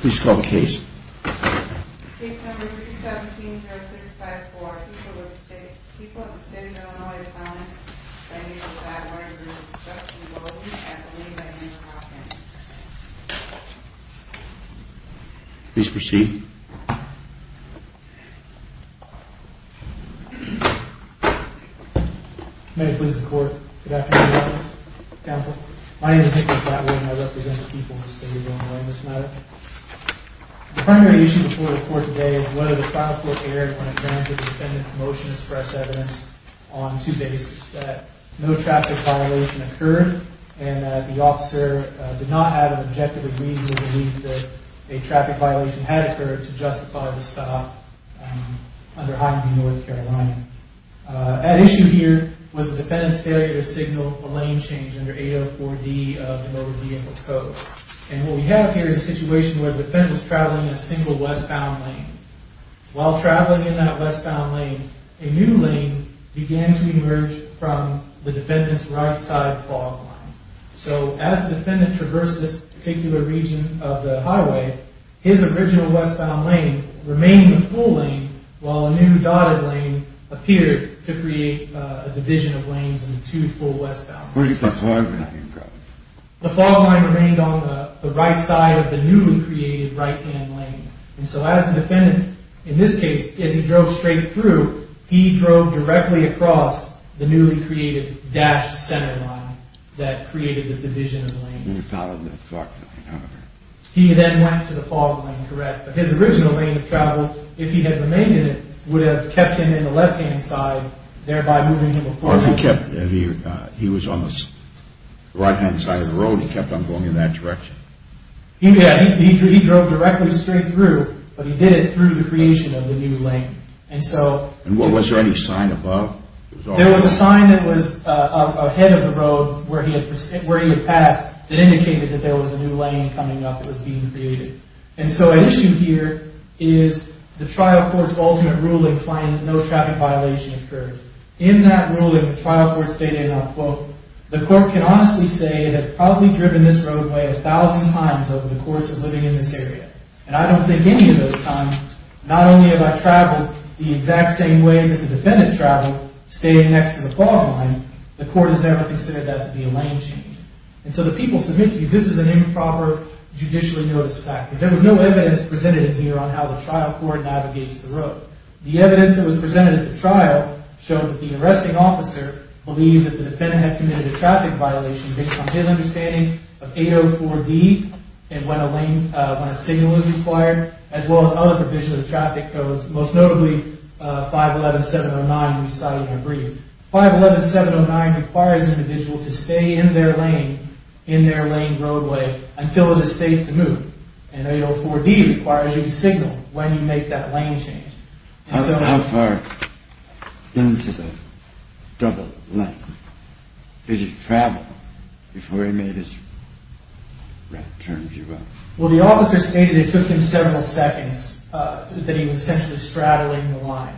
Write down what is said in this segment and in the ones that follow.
Please call the case. Case number 317-0654. People with syndrome and autonomy. I need to find one of your groups. Justin Bowden and Elina Ann Hopkins. Please proceed. May it please the court. Good afternoon. My name is Nicholas Latwood and I represent the people of the state of Illinois in this matter. The primary issue before the court today is whether the trial court erred when it granted the defendant's motion to express evidence on two bases. That no traffic violation occurred and that the officer did not have an objective or reasonable belief that a traffic violation had occurred to justify the stop under Highway North Carolina. At issue here was the defendant's failure to signal a lane change under 804D of the Motor Vehicle Code. And what we have here is a situation where the defendant is traveling a single westbound lane. While traveling in that westbound lane, a new lane began to emerge from the defendant's right side fog line. So as the defendant traversed this particular region of the highway, his original westbound lane remained the full lane while a new dotted lane appeared to create a division of lanes into the full westbound lane. The fog line remained on the right side of the newly created right-hand lane. And so as the defendant, in this case, as he drove straight through, he drove directly across the newly created dashed center line that created the division of lanes. He then went to the fog line, correct? But his original lane of travel, if he had remained in it, would have kept him in the left-hand side, thereby moving him... Or if he kept, if he was on the right-hand side of the road, he kept on going in that direction. He drove directly straight through, but he did it through the creation of the new lane. And so... And was there any sign above? There was a sign that was ahead of the road where he had passed that indicated that there was a new lane coming up that was being created. And so an issue here is the trial court's ultimate ruling claiming that no traffic violation occurs. In that ruling, the trial court stated, and I'll quote, The court can honestly say it has probably driven this roadway a thousand times over the course of living in this area. And I don't think any of those times, not only have I traveled the exact same way that the defendant traveled, staying next to the fog line, the court has never considered that to be a lane change. And so the people submit to you, this is an improper judicially noticed fact. Because there was no evidence presented in here on how the trial court navigates the road. The evidence that was presented at the trial showed that the arresting officer believed that the defendant had committed a traffic violation based on his understanding of 804D, and when a signal was required, as well as other provisions of traffic codes, most notably 511.709. 511.709 requires an individual to stay in their lane, in their lane roadway, until it is safe to move. And 804D requires you to signal when you make that lane change. How far into the double lane did he travel before he made his right turn, if you will? Well, the officer stated it took him several seconds, that he was essentially straddling the line.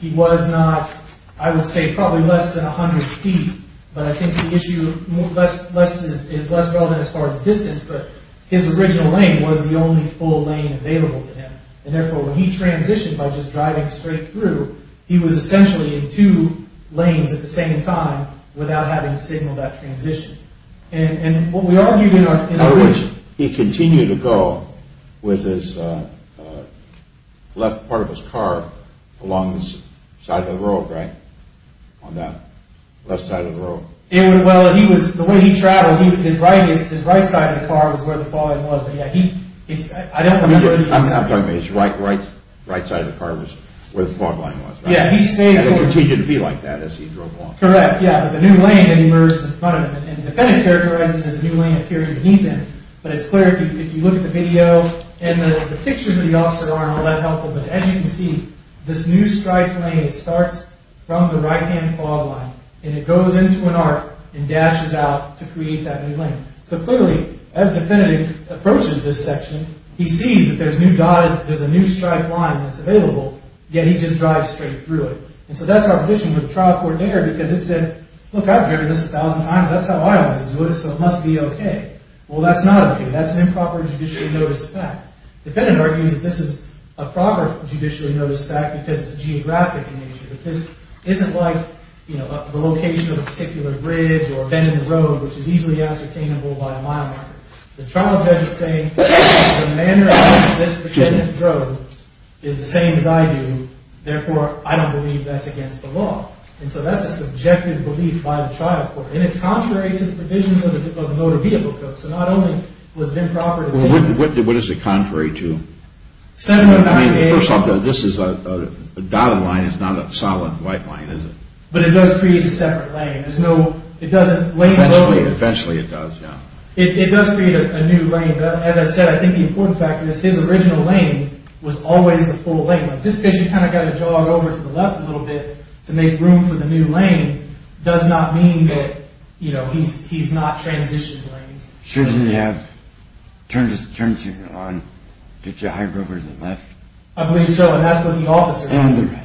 He was not, I would say, probably less than 100 feet, but I think the issue is less relevant as far as distance. But his original lane was the only full lane available to him, and therefore when he transitioned by just driving straight through, he was essentially in two lanes at the same time without having to signal that transition. In other words, he continued to go with his left part of his car along the side of the road, right? On that left side of the road. Well, the way he traveled, his right side of the car was where the fog line was. I'm sorry, his right side of the car was where the fog line was, right? Yeah. And he continued to be like that as he drove along. Correct, yeah. But the new lane emerged in front of him. And the defendant characterized it as a new lane appearing to heed them. But it's clear, if you look at the video, and the pictures of the officer aren't all that helpful, but as you can see, this new striped lane starts from the right-hand fog line, and it goes into an arc and dashes out to create that new lane. So clearly, as the defendant approaches this section, he sees that there's a new striped line that's available, yet he just drives straight through it. And so that's our position with the trial court there, because it said, look, I've heard this a thousand times, that's how I always do it, so it must be okay. Well, that's not okay, that's an improper judicial notice of fact. The defendant argues that this is a proper judicial notice of fact because it's geographic in nature. This isn't like, you know, the location of a particular bridge or bend in the road, which is easily ascertainable by a mile marker. The trial judge is saying, the manner in which this defendant drove is the same as I do, therefore I don't believe that's against the law. And so that's a subjective belief by the trial court. And it's contrary to the provisions of the Motor Vehicle Code. So not only was it improper to do that. What is it contrary to? First off, the dotted line is not a solid white line, is it? But it does create a separate lane. Eventually it does, yeah. It does create a new lane. But as I said, I think the important fact of this, his original lane was always the full lane. But just because you kind of got to jog over to the left a little bit to make room for the new lane does not mean that, you know, he's not transitioning lanes. Shouldn't he have turned his turn signal on to get you to hide over to the left? I believe so. And that's what the officer said. And the right.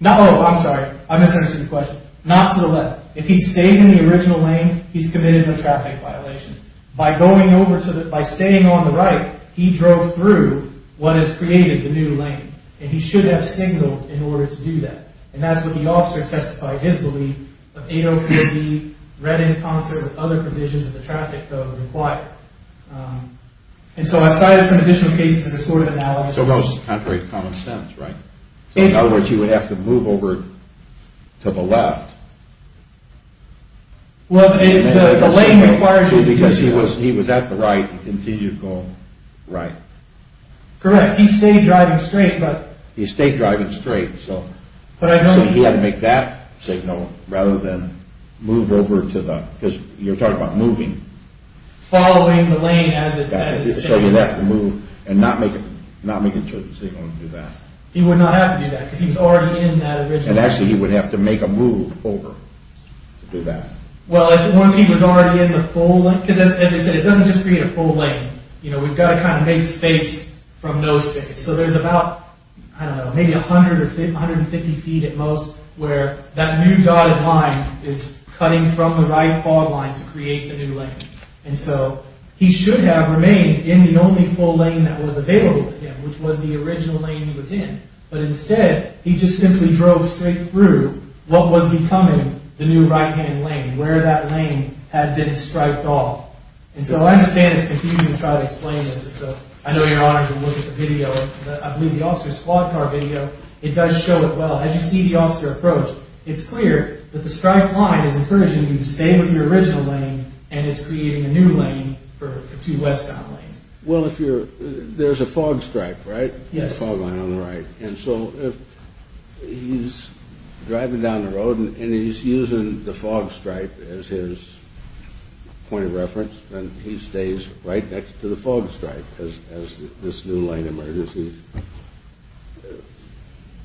No, I'm sorry. I misunderstood your question. Not to the left. If he stayed in the original lane, he's committed a traffic violation. By going over to the, by staying on the right, he drove through what has created the new lane. And he should have signaled in order to do that. And that's what the officer testified, his belief, of 803B read in concert with other provisions of the traffic code required. And so I cited some additional cases in this court of analysis. So that was contrary to common sense, right? So in other words, he would have to move over to the left. Well, the lane required him to. Because he was at the right, he continued to go right. Correct. He stayed driving straight, but. He stayed driving straight, so. So he had to make that signal rather than move over to the. Because you're talking about moving. Following the lane as it. So he would have to move and not make a signal to do that. He would not have to do that because he was already in that original. And actually he would have to make a move over to do that. Well, once he was already in the full lane. Because as I said, it doesn't just create a full lane. You know, we've got to kind of make space from no space. So there's about, I don't know, maybe 100 or 150 feet at most. Where that new dotted line is cutting from the right fog line to create a new lane. And so he should have remained in the only full lane that was available to him. Which was the original lane he was in. But instead, he just simply drove straight through what was becoming the new right hand lane. Where that lane had been striped off. And so I understand it's confusing to try to explain this. I know you're honored to look at the video. I believe the officer's squad car video. It does show it well. As you see the officer approach. It's clear that the striped line is encouraging him to stay with the original lane. And it's creating a new lane for two westbound lanes. Well, if you're, there's a fog stripe, right? Yes. A fog line on the right. And so if he's driving down the road and he's using the fog stripe as his point of reference. Then he stays right next to the fog stripe as this new lane emerges.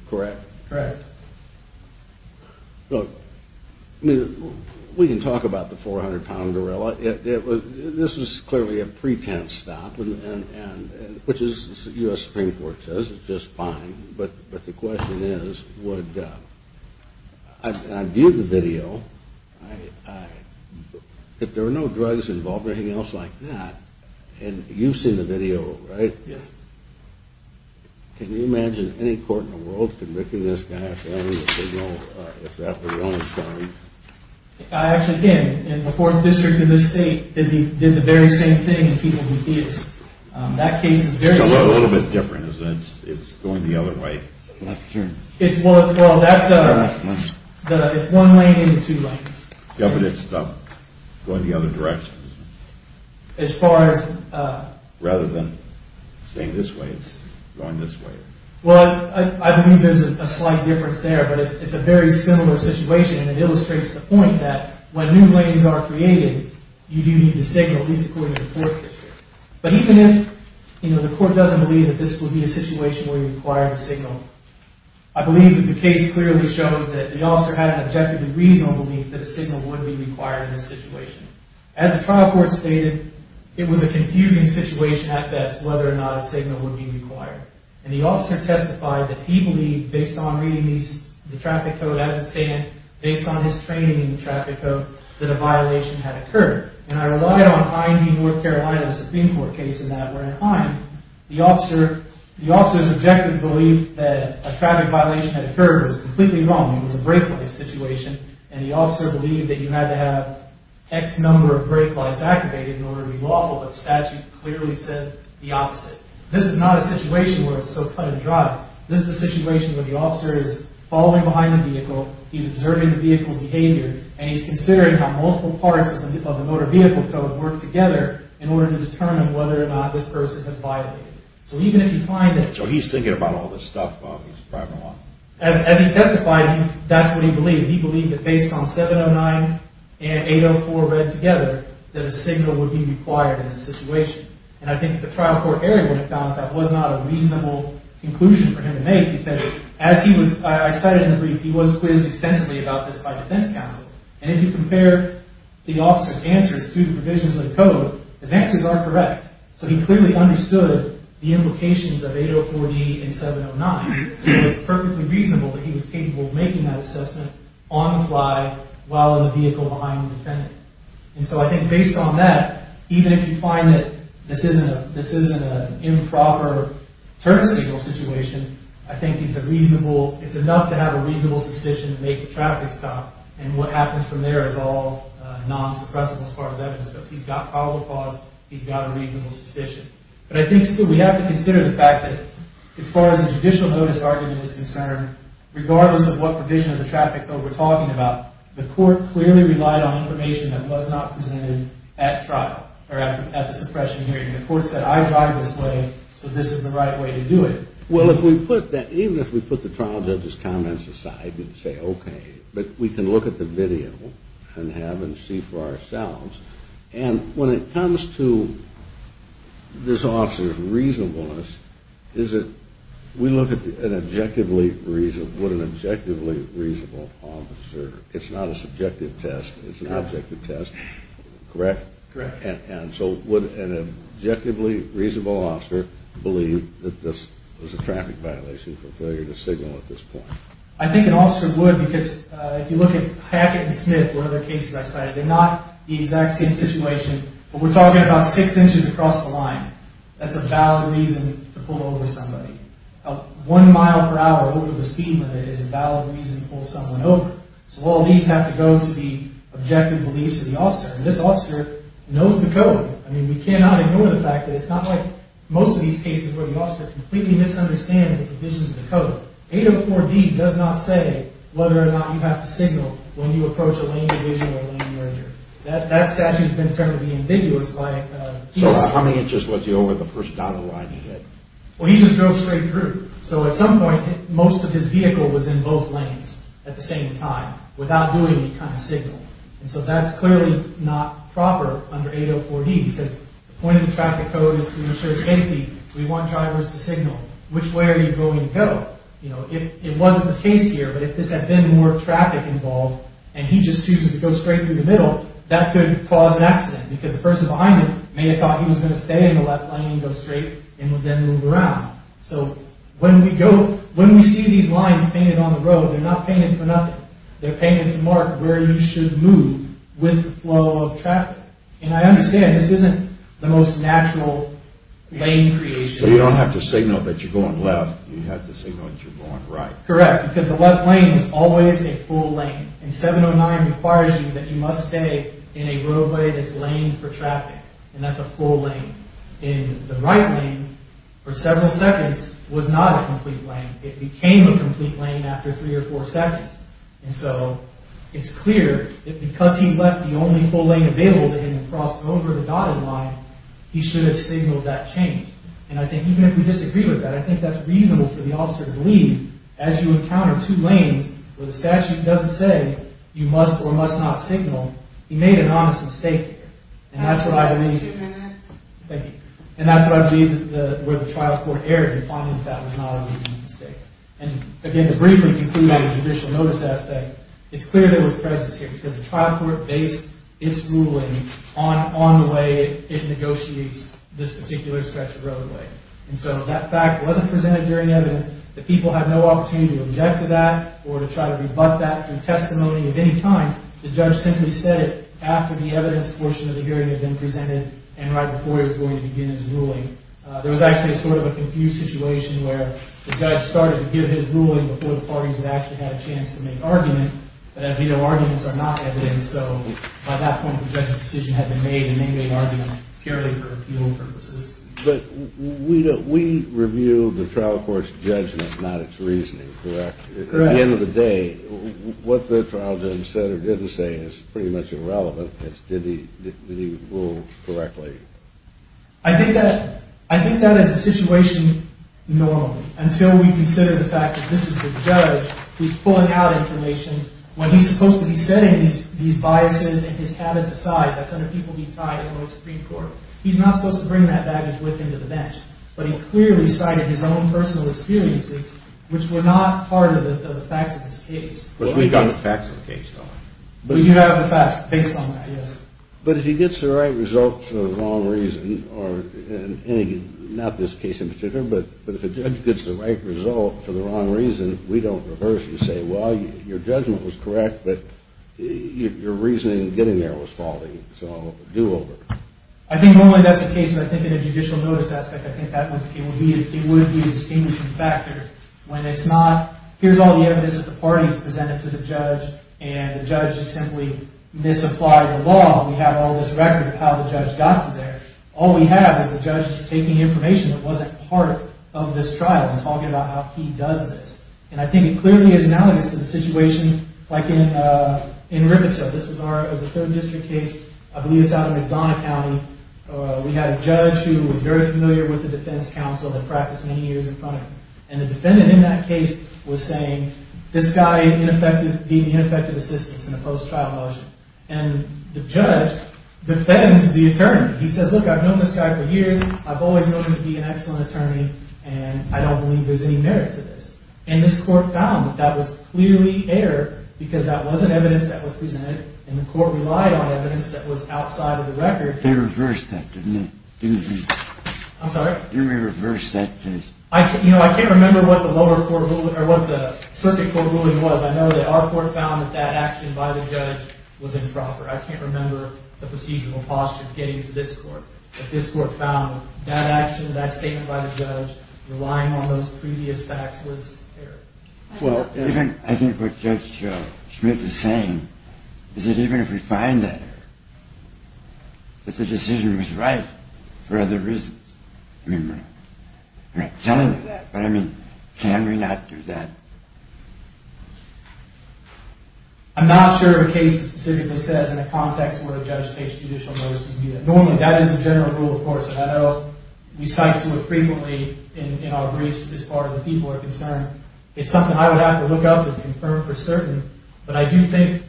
Correct? Correct. Look, we can talk about the 400 pound gorilla. This was clearly a pretense stop. Which the U.S. Supreme Court says is just fine. But the question is, would, I viewed the video. If there were no drugs involved or anything else like that. And you've seen the video, right? Yes. Can you imagine any court in the world convicting this guy if they don't, if that's the wrong story? I actually can. In the fourth district of this state, they did the very same thing in people who did. That case is very similar. It's a little bit different, isn't it? It's going the other way. Well, that's, it's one lane and two lanes. Yeah, but it's going the other direction. As far as. Rather than staying this way, it's going this way. Well, I believe there's a slight difference there. But it's a very similar situation. And it illustrates the point that when new lanes are created, you do need to signal, at least according to the fourth district. But even if, you know, the court doesn't believe that this would be a situation where you require the signal, I believe that the case clearly shows that the officer had an objectively reasonable belief that a signal would be required in this situation. As the trial court stated, it was a confusing situation at best whether or not a signal would be required. And the officer testified that he believed, based on reading the traffic code as it stands, based on his training in the traffic code, that a violation had occurred. And I relied on IND North Carolina's Supreme Court case in that we're in a time. The officer's objective belief that a traffic violation had occurred was completely wrong. It was a brake light situation. And the officer believed that you had to have X number of brake lights activated in order to be lawful. But the statute clearly said the opposite. This is not a situation where it's so cut and dry. This is a situation where the officer is following behind the vehicle, he's observing the vehicle's behavior, and he's considering how multiple parts of the motor vehicle code work together in order to determine whether or not this person has violated it. So even if you find that... So he's thinking about all this stuff. He's driving along. As he testified, that's what he believed. He believed that based on 709 and 804 read together, that a signal would be required in this situation. And I think the trial court area would have found that that was not a reasonable conclusion for him to make because as he was... I cited in the brief, he was quizzed extensively about this by defense counsel. And if you compare the officer's answers to the provisions of the code, his answers are correct. So he clearly understood the implications of 804D and 709. So it was perfectly reasonable that he was capable of making that assessment on the fly while in the vehicle behind the defendant. And so I think based on that, even if you find that this isn't an improper turn signal situation, I think it's enough to have a reasonable suspicion to make the traffic stop. And what happens from there is all non-suppressible as far as evidence goes. He's got probable cause. He's got a reasonable suspicion. But I think still we have to consider the fact that as far as the judicial notice argument is concerned, regardless of what provision of the traffic code we're talking about, the court clearly relied on information that was not presented at the suppression hearing. The court said, I drive this way, so this is the right way to do it. Well, even if we put the trial judge's comments aside and say, okay, but we can look at the video and see for ourselves. And when it comes to this officer's reasonableness, we look at an objectively reasonable officer. It's not a subjective test. It's an objective test. Correct? Correct. And so would an objectively reasonable officer believe that this was a traffic violation for failure to signal at this point? I think an officer would because if you look at Hackett and Smith or other cases I cited, they're not the exact same situation, but we're talking about six inches across the line. That's a valid reason to pull over somebody. One mile per hour over the speed limit is a valid reason to pull someone over. This officer knows the code. I mean, we cannot ignore the fact that it's not like most of these cases where the officer completely misunderstands the provisions of the code. 804D does not say whether or not you have to signal when you approach a lane division or a lane merger. That statute has been termed to be ambiguous. So how many inches was he over the first dotted line he hit? Well, he just drove straight through. So at some point, most of his vehicle was in both lanes at the same time without doing any kind of signal. So that's clearly not proper under 804D because the point of the traffic code is to ensure safety. We want drivers to signal. Which way are you going to go? It wasn't the case here, but if this had been more traffic involved and he just chooses to go straight through the middle, that could cause an accident because the person behind him may have thought he was going to stay in the left lane and go straight and would then move around. So when we see these lines painted on the road, they're not painted for nothing. They're painted to mark where you should move with the flow of traffic. And I understand this isn't the most natural lane creation. So you don't have to signal that you're going left. You have to signal that you're going right. Correct, because the left lane is always a full lane. And 709 requires you that you must stay in a roadway that's laned for traffic. And that's a full lane. And the right lane, for several seconds, was not a complete lane. It became a complete lane after three or four seconds. And so it's clear that because he left the only full lane available to him and crossed over the dotted line, he should have signaled that change. And I think even if we disagree with that, I think that's reasonable for the officer to believe. As you encounter two lanes where the statute doesn't say you must or must not signal, he made an honest mistake here. And that's what I believe. Thank you. And that's what I believe where the trial court erred in finding that that was not a reasonable mistake. And again, to briefly conclude on the judicial notice aspect, it's clear there was prejudice here because the trial court based its ruling on the way it negotiates this particular stretch of roadway. And so that fact wasn't presented during evidence. The people had no opportunity to object to that or to try to rebut that through testimony of any kind. The judge simply said it after the evidence portion of the hearing had been presented and right before he was going to begin his ruling. There was actually sort of a confused situation where the judge started to give his ruling before the parties had actually had a chance to make argument. But as we know, arguments are not evidence. So by that point, the judge's decision had been made, and they made arguments purely for appeal purposes. But we reviewed the trial court's judgment, not its reasoning, correct? Correct. At the end of the day, what the trial judge said or didn't say is pretty much irrelevant. Did he rule correctly? I think that as a situation, no, until we consider the fact that this is the judge who's pulling out information when he's supposed to be setting these biases and his habits aside that's under people being tied in the Supreme Court. He's not supposed to bring that baggage with him to the bench. But he clearly cited his own personal experiences, which were not part of the facts of his case. But we've got the facts of the case. We do have the facts based on that, yes. But if he gets the right result for the wrong reason, or not this case in particular, but if a judge gets the right result for the wrong reason, we don't reverse and say, well, your judgment was correct, but your reasoning in getting there was faulty, so do over. I think normally that's the case, but I think in a judicial notice aspect, I think it would be a distinguishing factor when it's not, here's all the evidence that the parties presented to the judge, and the judge just simply misapplied the law. We have all this record of how the judge got to there. All we have is the judge just taking information that wasn't part of this trial and talking about how he does this. And I think it clearly is analogous to the situation like in Rivertale. This is our third district case. I believe it's out in McDonough County. We had a judge who was very familiar with the defense counsel that practiced many years in front of him. And the defendant in that case was saying, this guy being ineffective assistance in a post-trial motion. And the judge defends the attorney. He says, look, I've known this guy for years. I've always known him to be an excellent attorney, and I don't believe there's any merit to this. And this court found that that was clearly error because that wasn't evidence that was presented, and the court relied on evidence that was outside of the record. They reversed that, didn't they? I'm sorry? They reversed that case. I can't remember what the circuit court ruling was. I know that our court found that that action by the judge was improper. I can't remember the procedural posture of getting to this court, but this court found that action, that statement by the judge, relying on those previous facts was error. Well, I think what Judge Smith is saying is that even if we find that error, that the decision was right for other reasons. I'm not telling you what I mean. Can we not do that? I'm not sure of a case, the circuit says, in a context where a judge takes judicial notice of a unit. Normally, that is the general rule, of course, and I know we cite to it frequently in our briefs as far as the people are concerned. It's something I would have to look up and confirm for certain, but I do think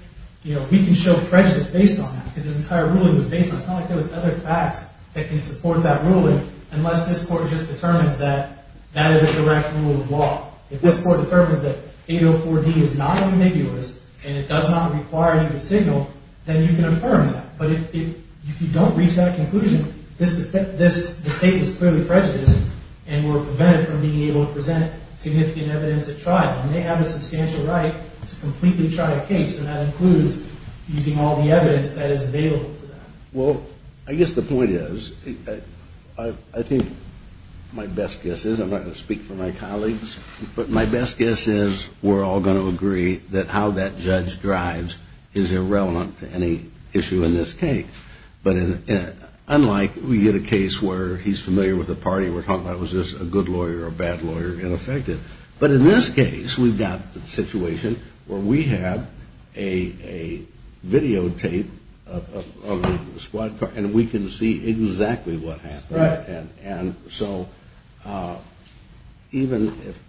we can show prejudice based on that because this entire ruling was based on some of those other facts that can support that ruling unless this court just determines that that is a direct rule of law. If this court determines that 804D is not ambiguous and it does not require you to signal, then you can affirm that. But if you don't reach that conclusion, the state is clearly prejudiced and we're prevented from being able to present significant evidence at trial. They have a substantial right to completely try a case, and that includes using all the evidence that is available to them. Well, I guess the point is, I think my best guess is, I'm not going to speak for my colleagues, but my best guess is we're all going to agree that how that judge drives is irrelevant to any issue in this case. But unlike we get a case where he's familiar with the party, we're talking about was this a good lawyer or a bad lawyer, ineffective. But in this case, we've got the situation where we have a videotape of the squad car and we can see exactly what happened. So even if,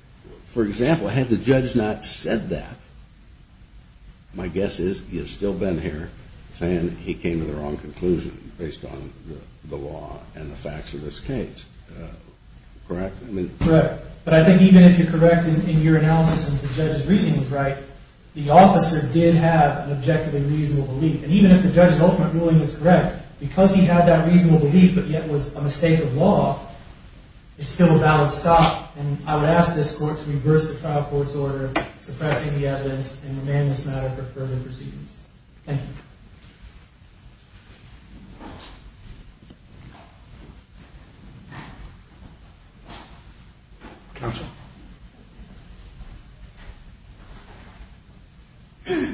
for example, had the judge not said that, my guess is he would still have been here saying he came to the wrong conclusion based on the law and the facts of this case. Correct? Correct. But I think even if you're correct in your analysis and the judge's reasoning is right, the officer did have an objectively reasonable belief. And even if the judge's ultimate ruling was correct, because he had that reasonable belief but yet was a mistake of law, it's still a valid stop. And I would ask this court to reverse the trial court's order suppressing the evidence and remand this matter for further proceedings. Thank you. Counsel. Good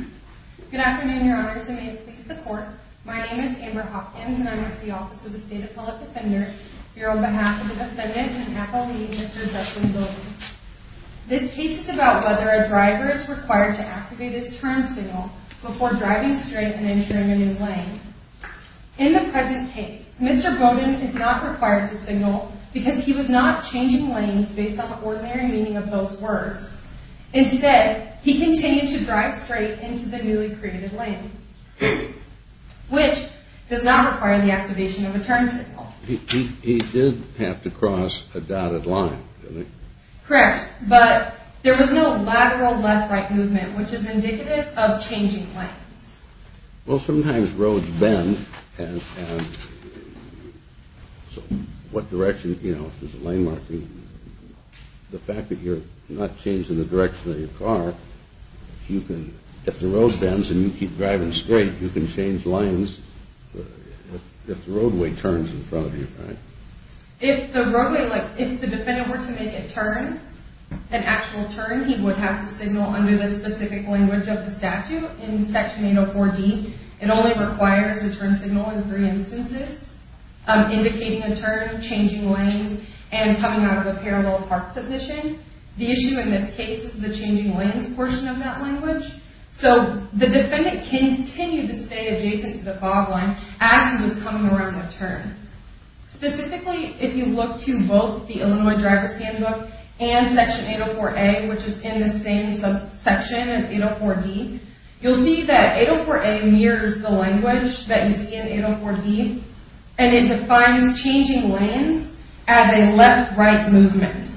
afternoon, Your Honors, and may it please the court. My name is Amber Hopkins and I'm with the Office of the State Appellate Defender. Here on behalf of the defendant and appellee, Mr. Justin Bowden. This case is about whether a driver is required to activate his turn signal before driving straight and entering a new lane. In the present case, Mr. Bowden is not required to signal because he was not changing lanes based on the ordinary meaning of those words. Instead, he continued to drive straight into the newly created lane, which does not require the activation of a turn signal. He did have to cross a dotted line, didn't he? Correct, but there was no lateral left-right movement, which is indicative of changing lanes. Well, sometimes roads bend, and what direction, you know, if there's a lane marking. The fact that you're not changing the direction of your car, if the road bends and you keep driving straight, you can change lanes if the roadway turns in front of you, right? If the roadway, like, if the defendant were to make a turn, an actual turn, he would have to signal under the specific language of the statute in Section 804D. It only requires a turn signal in three instances, indicating a turn, changing lanes, and coming out of a parallel park position. The issue in this case is the changing lanes portion of that language. So the defendant can continue to stay adjacent to the fog line as he was coming around the turn. Specifically, if you look to both the Illinois Driver's Handbook and Section 804A, which is in the same section as 804D, you'll see that 804A mirrors the language that you see in 804D, and it defines changing lanes as a left-right movement.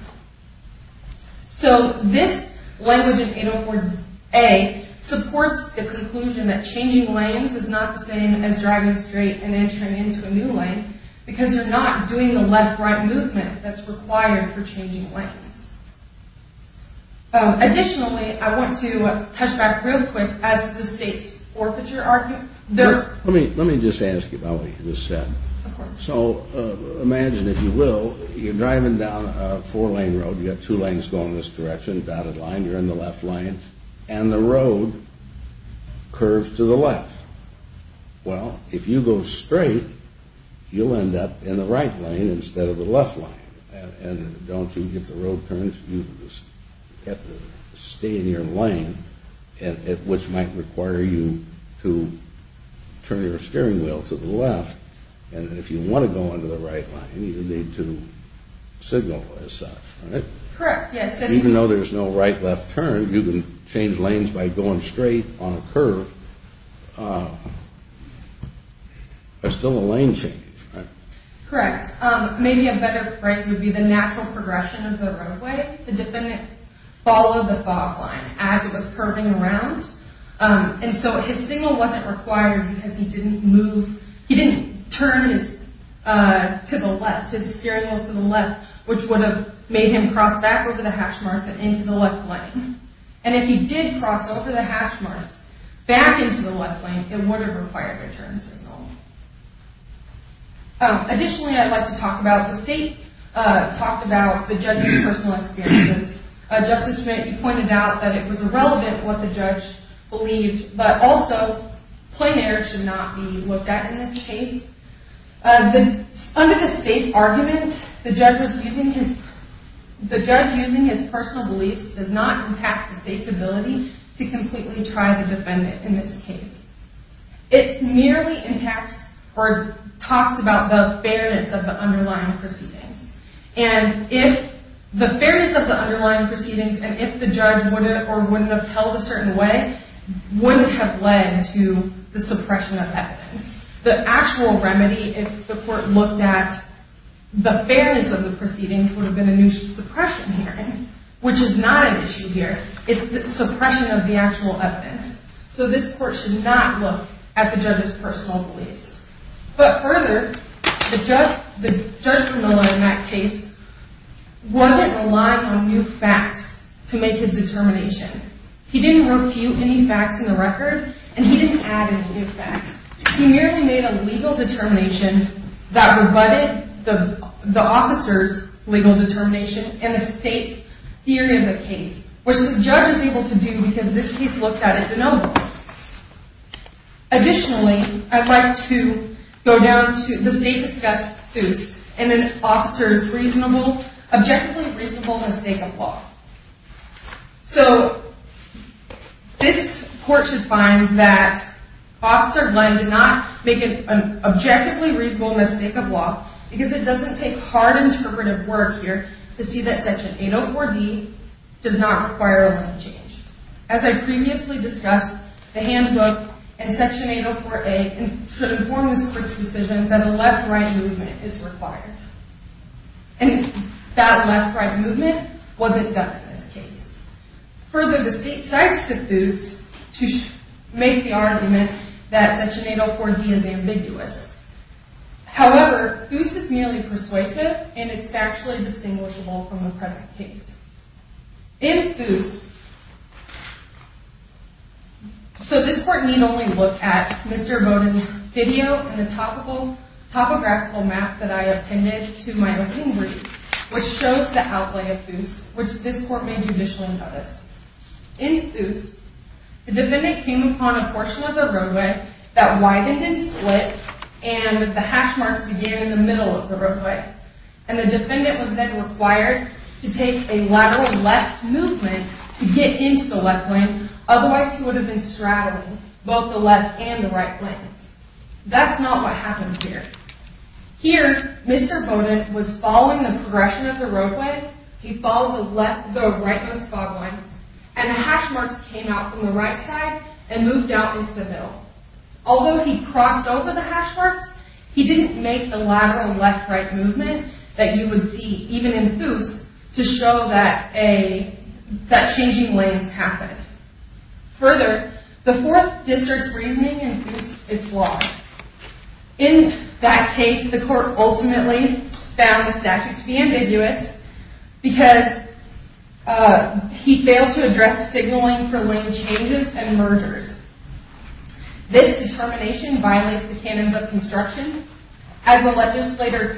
So this language in 804A supports the conclusion that changing lanes is not the same as driving straight and entering into a new lane, because you're not doing the left-right movement that's required for changing lanes. Additionally, I want to touch back real quick as to the state's forfeiture argument. Let me just ask you about what you just said. So imagine, if you will, you're driving down a four-lane road, you've got two lanes going this direction, dotted line, you're in the left lane, and the road curves to the left. Well, if you go straight, you'll end up in the right lane instead of the left lane. And don't you get the road turns? You just have to stay in your lane, which might require you to turn your steering wheel to the left. And if you want to go into the right lane, you need to signal as such, right? Correct, yes. Even though there's no right-left turn, you can change lanes by going straight on a curve. It's still a lane change, right? Correct. Maybe a better phrase would be the natural progression of the roadway. The defendant followed the fog line as it was curving around, and so his signal wasn't required because he didn't move. He didn't turn to the left, his steering wheel to the left, which would have made him cross back over the hash marks and into the left lane. And if he did cross over the hash marks back into the left lane, it would have required a turn signal. Additionally, I'd like to talk about the state, talk about the judge's personal experiences. Justice Smith, you pointed out that it was irrelevant what the judge believed, but also, plain air should not be looked at in this case. Under the state's argument, the judge using his personal beliefs does not impact the state's ability to completely try the defendant in this case. It merely impacts or talks about the fairness of the underlying proceedings. And if the fairness of the underlying proceedings, and if the judge would have or wouldn't have held a certain way, wouldn't have led to the suppression of evidence. The actual remedy, if the court looked at the fairness of the proceedings, would have been a new suppression hearing, which is not an issue here. It's the suppression of the actual evidence. So this court should not look at the judge's personal beliefs. But further, the judge in that case wasn't relying on new facts to make his determination. He didn't refute any facts in the record, and he didn't add any new facts. He merely made a legal determination that rebutted the officer's legal determination and the state's theory of the case, which the judge was able to do because this case looks at it denominally. Additionally, I'd like to go down to the state-discussed suits and an officer's reasonably, objectively reasonable mistake of law. So this court should find that Officer Glenn did not make an objectively reasonable mistake of law because it doesn't take hard interpretive work here to see that Section 804D does not require a limit change. As I previously discussed, the handbook and Section 804A should inform this court's decision that a left-right movement is required. And that left-right movement wasn't done in this case. Further, the state cites the theus to make the argument that Section 804D is ambiguous. However, theus is merely persuasive, and it's factually distinguishable from the present case. In theus, so this court need only look at Mr. Bowden's video and the topographical map that I appended to my opinion brief, which shows the outlay of theus, which this court may judicially notice. In theus, the defendant came upon a portion of the roadway that widened and split, and the hash marks began in the middle of the roadway. And the defendant was then required to take a lateral left movement to get into the left lane, otherwise he would have been straddling both the left and the right lanes. That's not what happened here. Here, Mr. Bowden was following the progression of the roadway, he followed the rightmost fog line, and the hash marks came out from the right side and moved out into the middle. Although he crossed over the hash marks, he didn't make the lateral left-right movement that you would see even in theus to show that changing lanes happened. Further, the Fourth District's reasoning in theus is flawed. In that case, the court ultimately found the statute to be ambiguous because he failed to address signaling for lane changes and mergers. This determination violates the canons of construction, as the legislature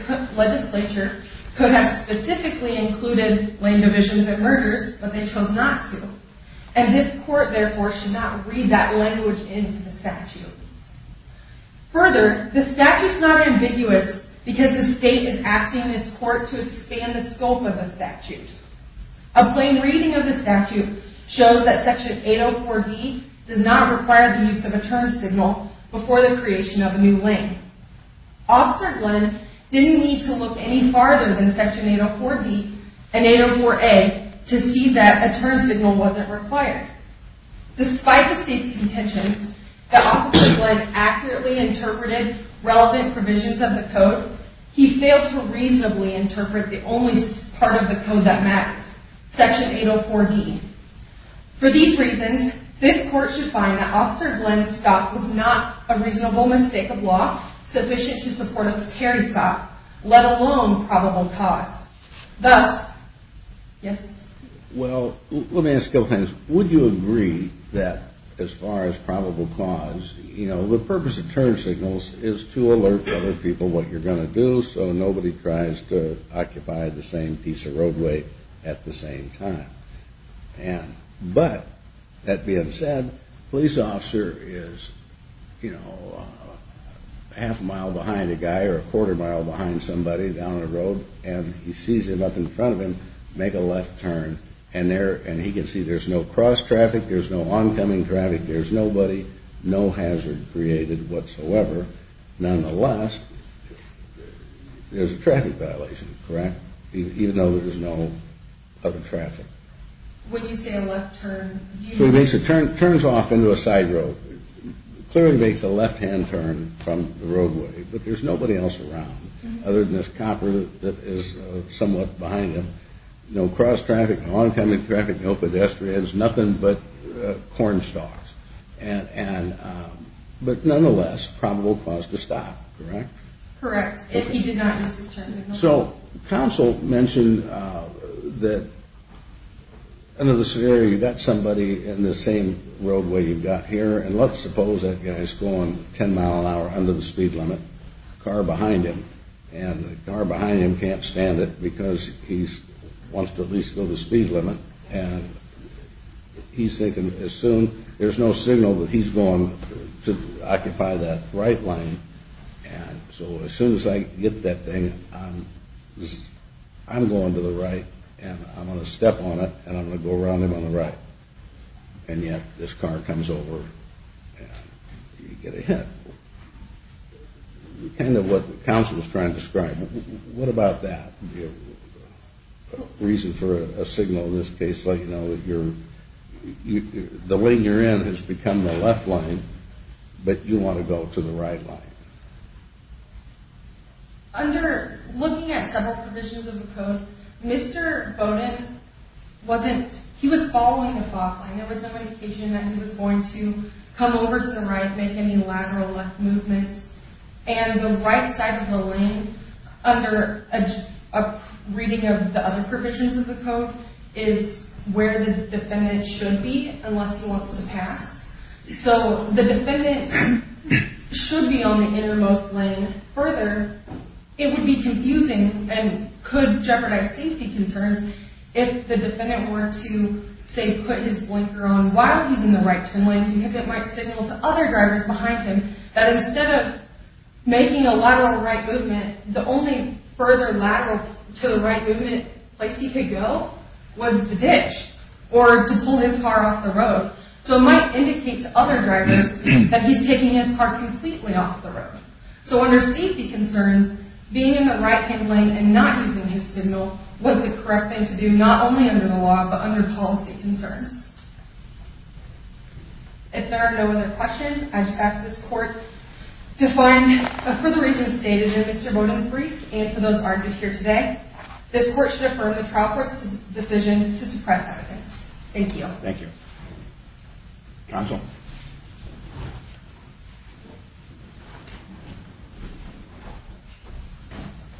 could have specifically included lane divisions and mergers, but they chose not to. And this court, therefore, should not read that language into the statute. Further, the statute's not ambiguous because the state is asking this court to expand the scope of the statute. A plain reading of the statute shows that Section 804D does not require the use of a turn signal before the creation of a new lane. Officer Glenn didn't need to look any farther than Section 804D and 804A to see that a turn signal wasn't required. Despite the state's contentions that Officer Glenn accurately interpreted relevant provisions of the code, he failed to reasonably interpret the only part of the code that mattered, Section 804D. For these reasons, this court should find that Officer Glenn's stop was not a reasonable mistake of law sufficient to support a secondary stop, let alone probable cause. Thus, yes? Well, let me ask you a few things. Would you agree that as far as probable cause, you know, the purpose of turn signals is to alert other people what you're going to do so nobody tries to occupy the same piece of roadway at the same time? And, but, that being said, a police officer is, you know, half a mile behind a guy or a quarter mile behind somebody down a road and he sees him up in front of him make a left turn and he can see there's no cross traffic, there's no oncoming traffic, there's nobody, no hazard created whatsoever. Nonetheless, there's a traffic violation, correct? Even though there's no other traffic. When you say a left turn, do you mean? So he makes a turn, turns off into a side road, clearly makes a left-hand turn from the roadway, but there's nobody else around other than this cop that is somewhat behind him. No cross traffic, no oncoming traffic, no pedestrians, nothing but corn stalks. And, but nonetheless, probable cause to stop, correct? Correct, if he did not use his turn signal. So counsel mentioned that under the severity, you've got somebody in the same roadway you've got here and let's suppose that guy's going 10 mile an hour under the speed limit, car behind him, and the car behind him can't stand it because he wants to at least go the speed limit and he's thinking as soon, there's no signal but he's going to occupy that right lane and so as soon as I get that thing, I'm going to the right and I'm going to step on it and I'm going to go around him on the right. And yet this car comes over and you get a hit. Kind of what counsel was trying to describe. What about that? A reason for a signal in this case so you know that you're, the lane you're in has become the left lane but you want to go to the right lane. Under looking at several provisions of the code, Mr. Bowden wasn't, he was following a thought line. There was no indication that he was going to come over to the right, make any lateral left movements and the right side of the lane under a reading of the other provisions of the code is where the defendant should be unless he wants to pass. So the defendant should be on the innermost lane. Further, it would be confusing and could jeopardize safety concerns if the defendant were to, say, put his blinker on while he's in the right turn lane because it might signal to other drivers behind him that instead of making a lateral right movement, the only further lateral to the right movement place he could go was the ditch or to pull his car off the road. So it might indicate to other drivers that he's taking his car completely off the road. So under safety concerns, being in the right hand lane and not using his signal was the correct thing to do not only under the law but under policy concerns. If there are no other questions, I just ask this court to find, for the reasons stated in Mr. Bowden's brief and for those argued here today, this court should affirm the trial court's decision to suppress evidence. Thank you. Thank you. Counsel.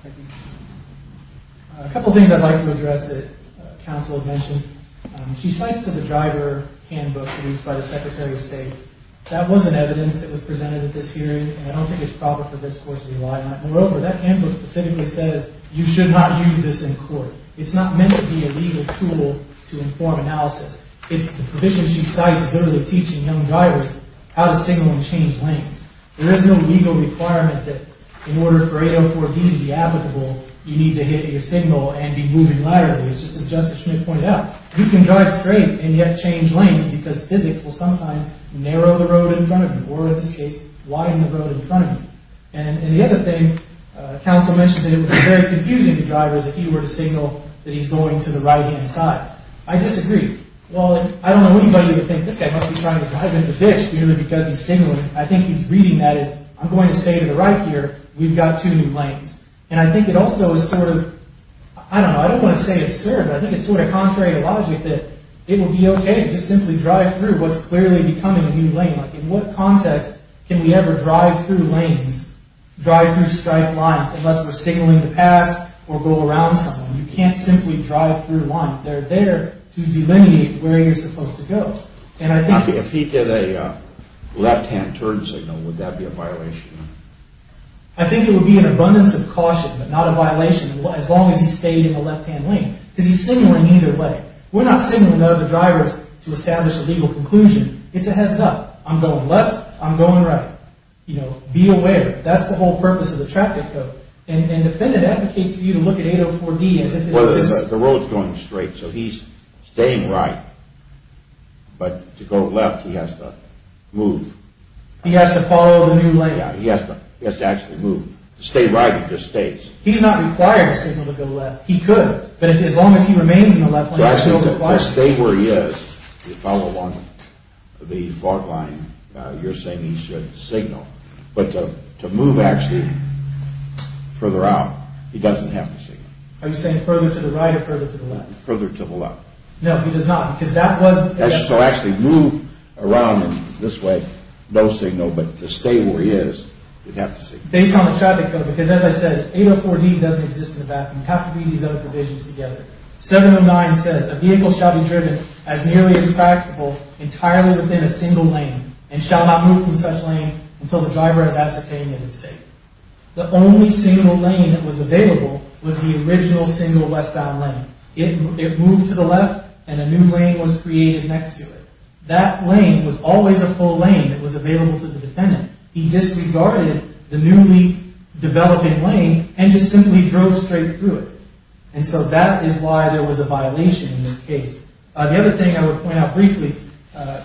Thank you. A couple of things I'd like to address that counsel had mentioned. She cites the driver handbook produced by the Secretary of State. That was an evidence that was presented at this hearing, and I don't think it's proper for this court to rely on it. Moreover, that handbook specifically says you should not use this in court. It's not meant to be a legal tool to inform analysis. It's the provision she cites goes with teaching young drivers how to signal and change lanes. There is no legal requirement that in order for 804B to be applicable, you need to hit your signal and be moving laterally. It's just as Justice Schmidt pointed out. You can drive straight and yet change lanes because physics will sometimes narrow the road in front of you or, in this case, widen the road in front of you. And the other thing counsel mentioned today was very confusing to drivers if he were to signal that he's going to the right-hand side. I disagree. Well, I don't know anybody who would think this guy must be trying to drive into the ditch because he's signaling. I think he's reading that as, I'm going to stay to the right here. We've got two new lanes. And I think it also is sort of, I don't know, I don't want to say absurd, but I think it's sort of contrary to logic that it would be okay to simply drive through what's clearly becoming a new lane. In what context can we ever drive through lanes, drive through striped lines, unless we're signaling to pass or go around someone? You can't simply drive through lines. They're there to delineate where you're supposed to go. If he did a left-hand turn signal, would that be a violation? I think it would be an abundance of caution but not a violation as long as he stayed in the left-hand lane because he's signaling either way. We're not signaling the other drivers to establish a legal conclusion. It's a heads up. I'm going left. I'm going right. Be aware. That's the whole purpose of the traffic code. And the defendant advocates for you to look at 804D as if it was... Well, the road's going straight, so he's staying right. But to go left, he has to move. He has to follow the new lane. Yeah, he has to actually move. To stay right, he just stays. He's not required to signal to go left. He could. But as long as he remains in the left lane... To stay where he is, to follow along the fault line, you're saying he should signal. But to move actually further out, he doesn't have to signal. Are you saying further to the right or further to the left? Further to the left. No, he does not. Because that was... So actually move around in this way, no signal. But to stay where he is, you'd have to signal. Based on the traffic code. Because as I said, 804D doesn't exist in the background. It would have to be these other provisions together. 709 says, a vehicle shall be driven as nearly as practicable entirely within a single lane and shall not move from such lane until the driver has ascertained it is safe. The only single lane that was available was the original single westbound lane. It moved to the left and a new lane was created next to it. That lane was always a full lane that was available to the defendant. He disregarded the newly developing lane and just simply drove straight through it. And so that is why there was a violation in this case. The other thing I would point out briefly,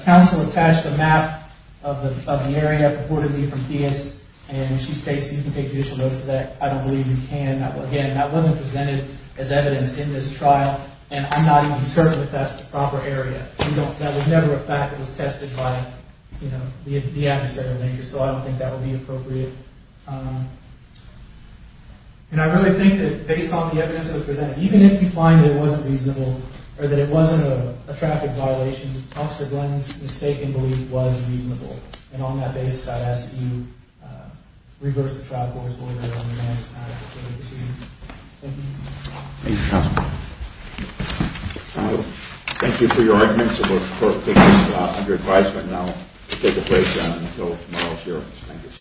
counsel attached a map of the area, purportedly from Theis, and she states you can take judicial notice of that. I don't believe you can. Again, that wasn't presented as evidence in this trial, and I'm not even certain that that's the proper area. That was never a fact that was tested by the adversarial nature, so I don't think that would be appropriate. And I really think that based on the evidence that was presented, even if you find that it wasn't reasonable or that it wasn't a traffic violation, Officer Glenn's mistake in belief was reasonable. And on that basis, I ask that you reverse the trial court's order on the man's inadequate criminal proceedings. Thank you. Thank you, counsel. Thank you for your arguments. It looks perfect under advisement. And I'll take a break until tomorrow's hearings.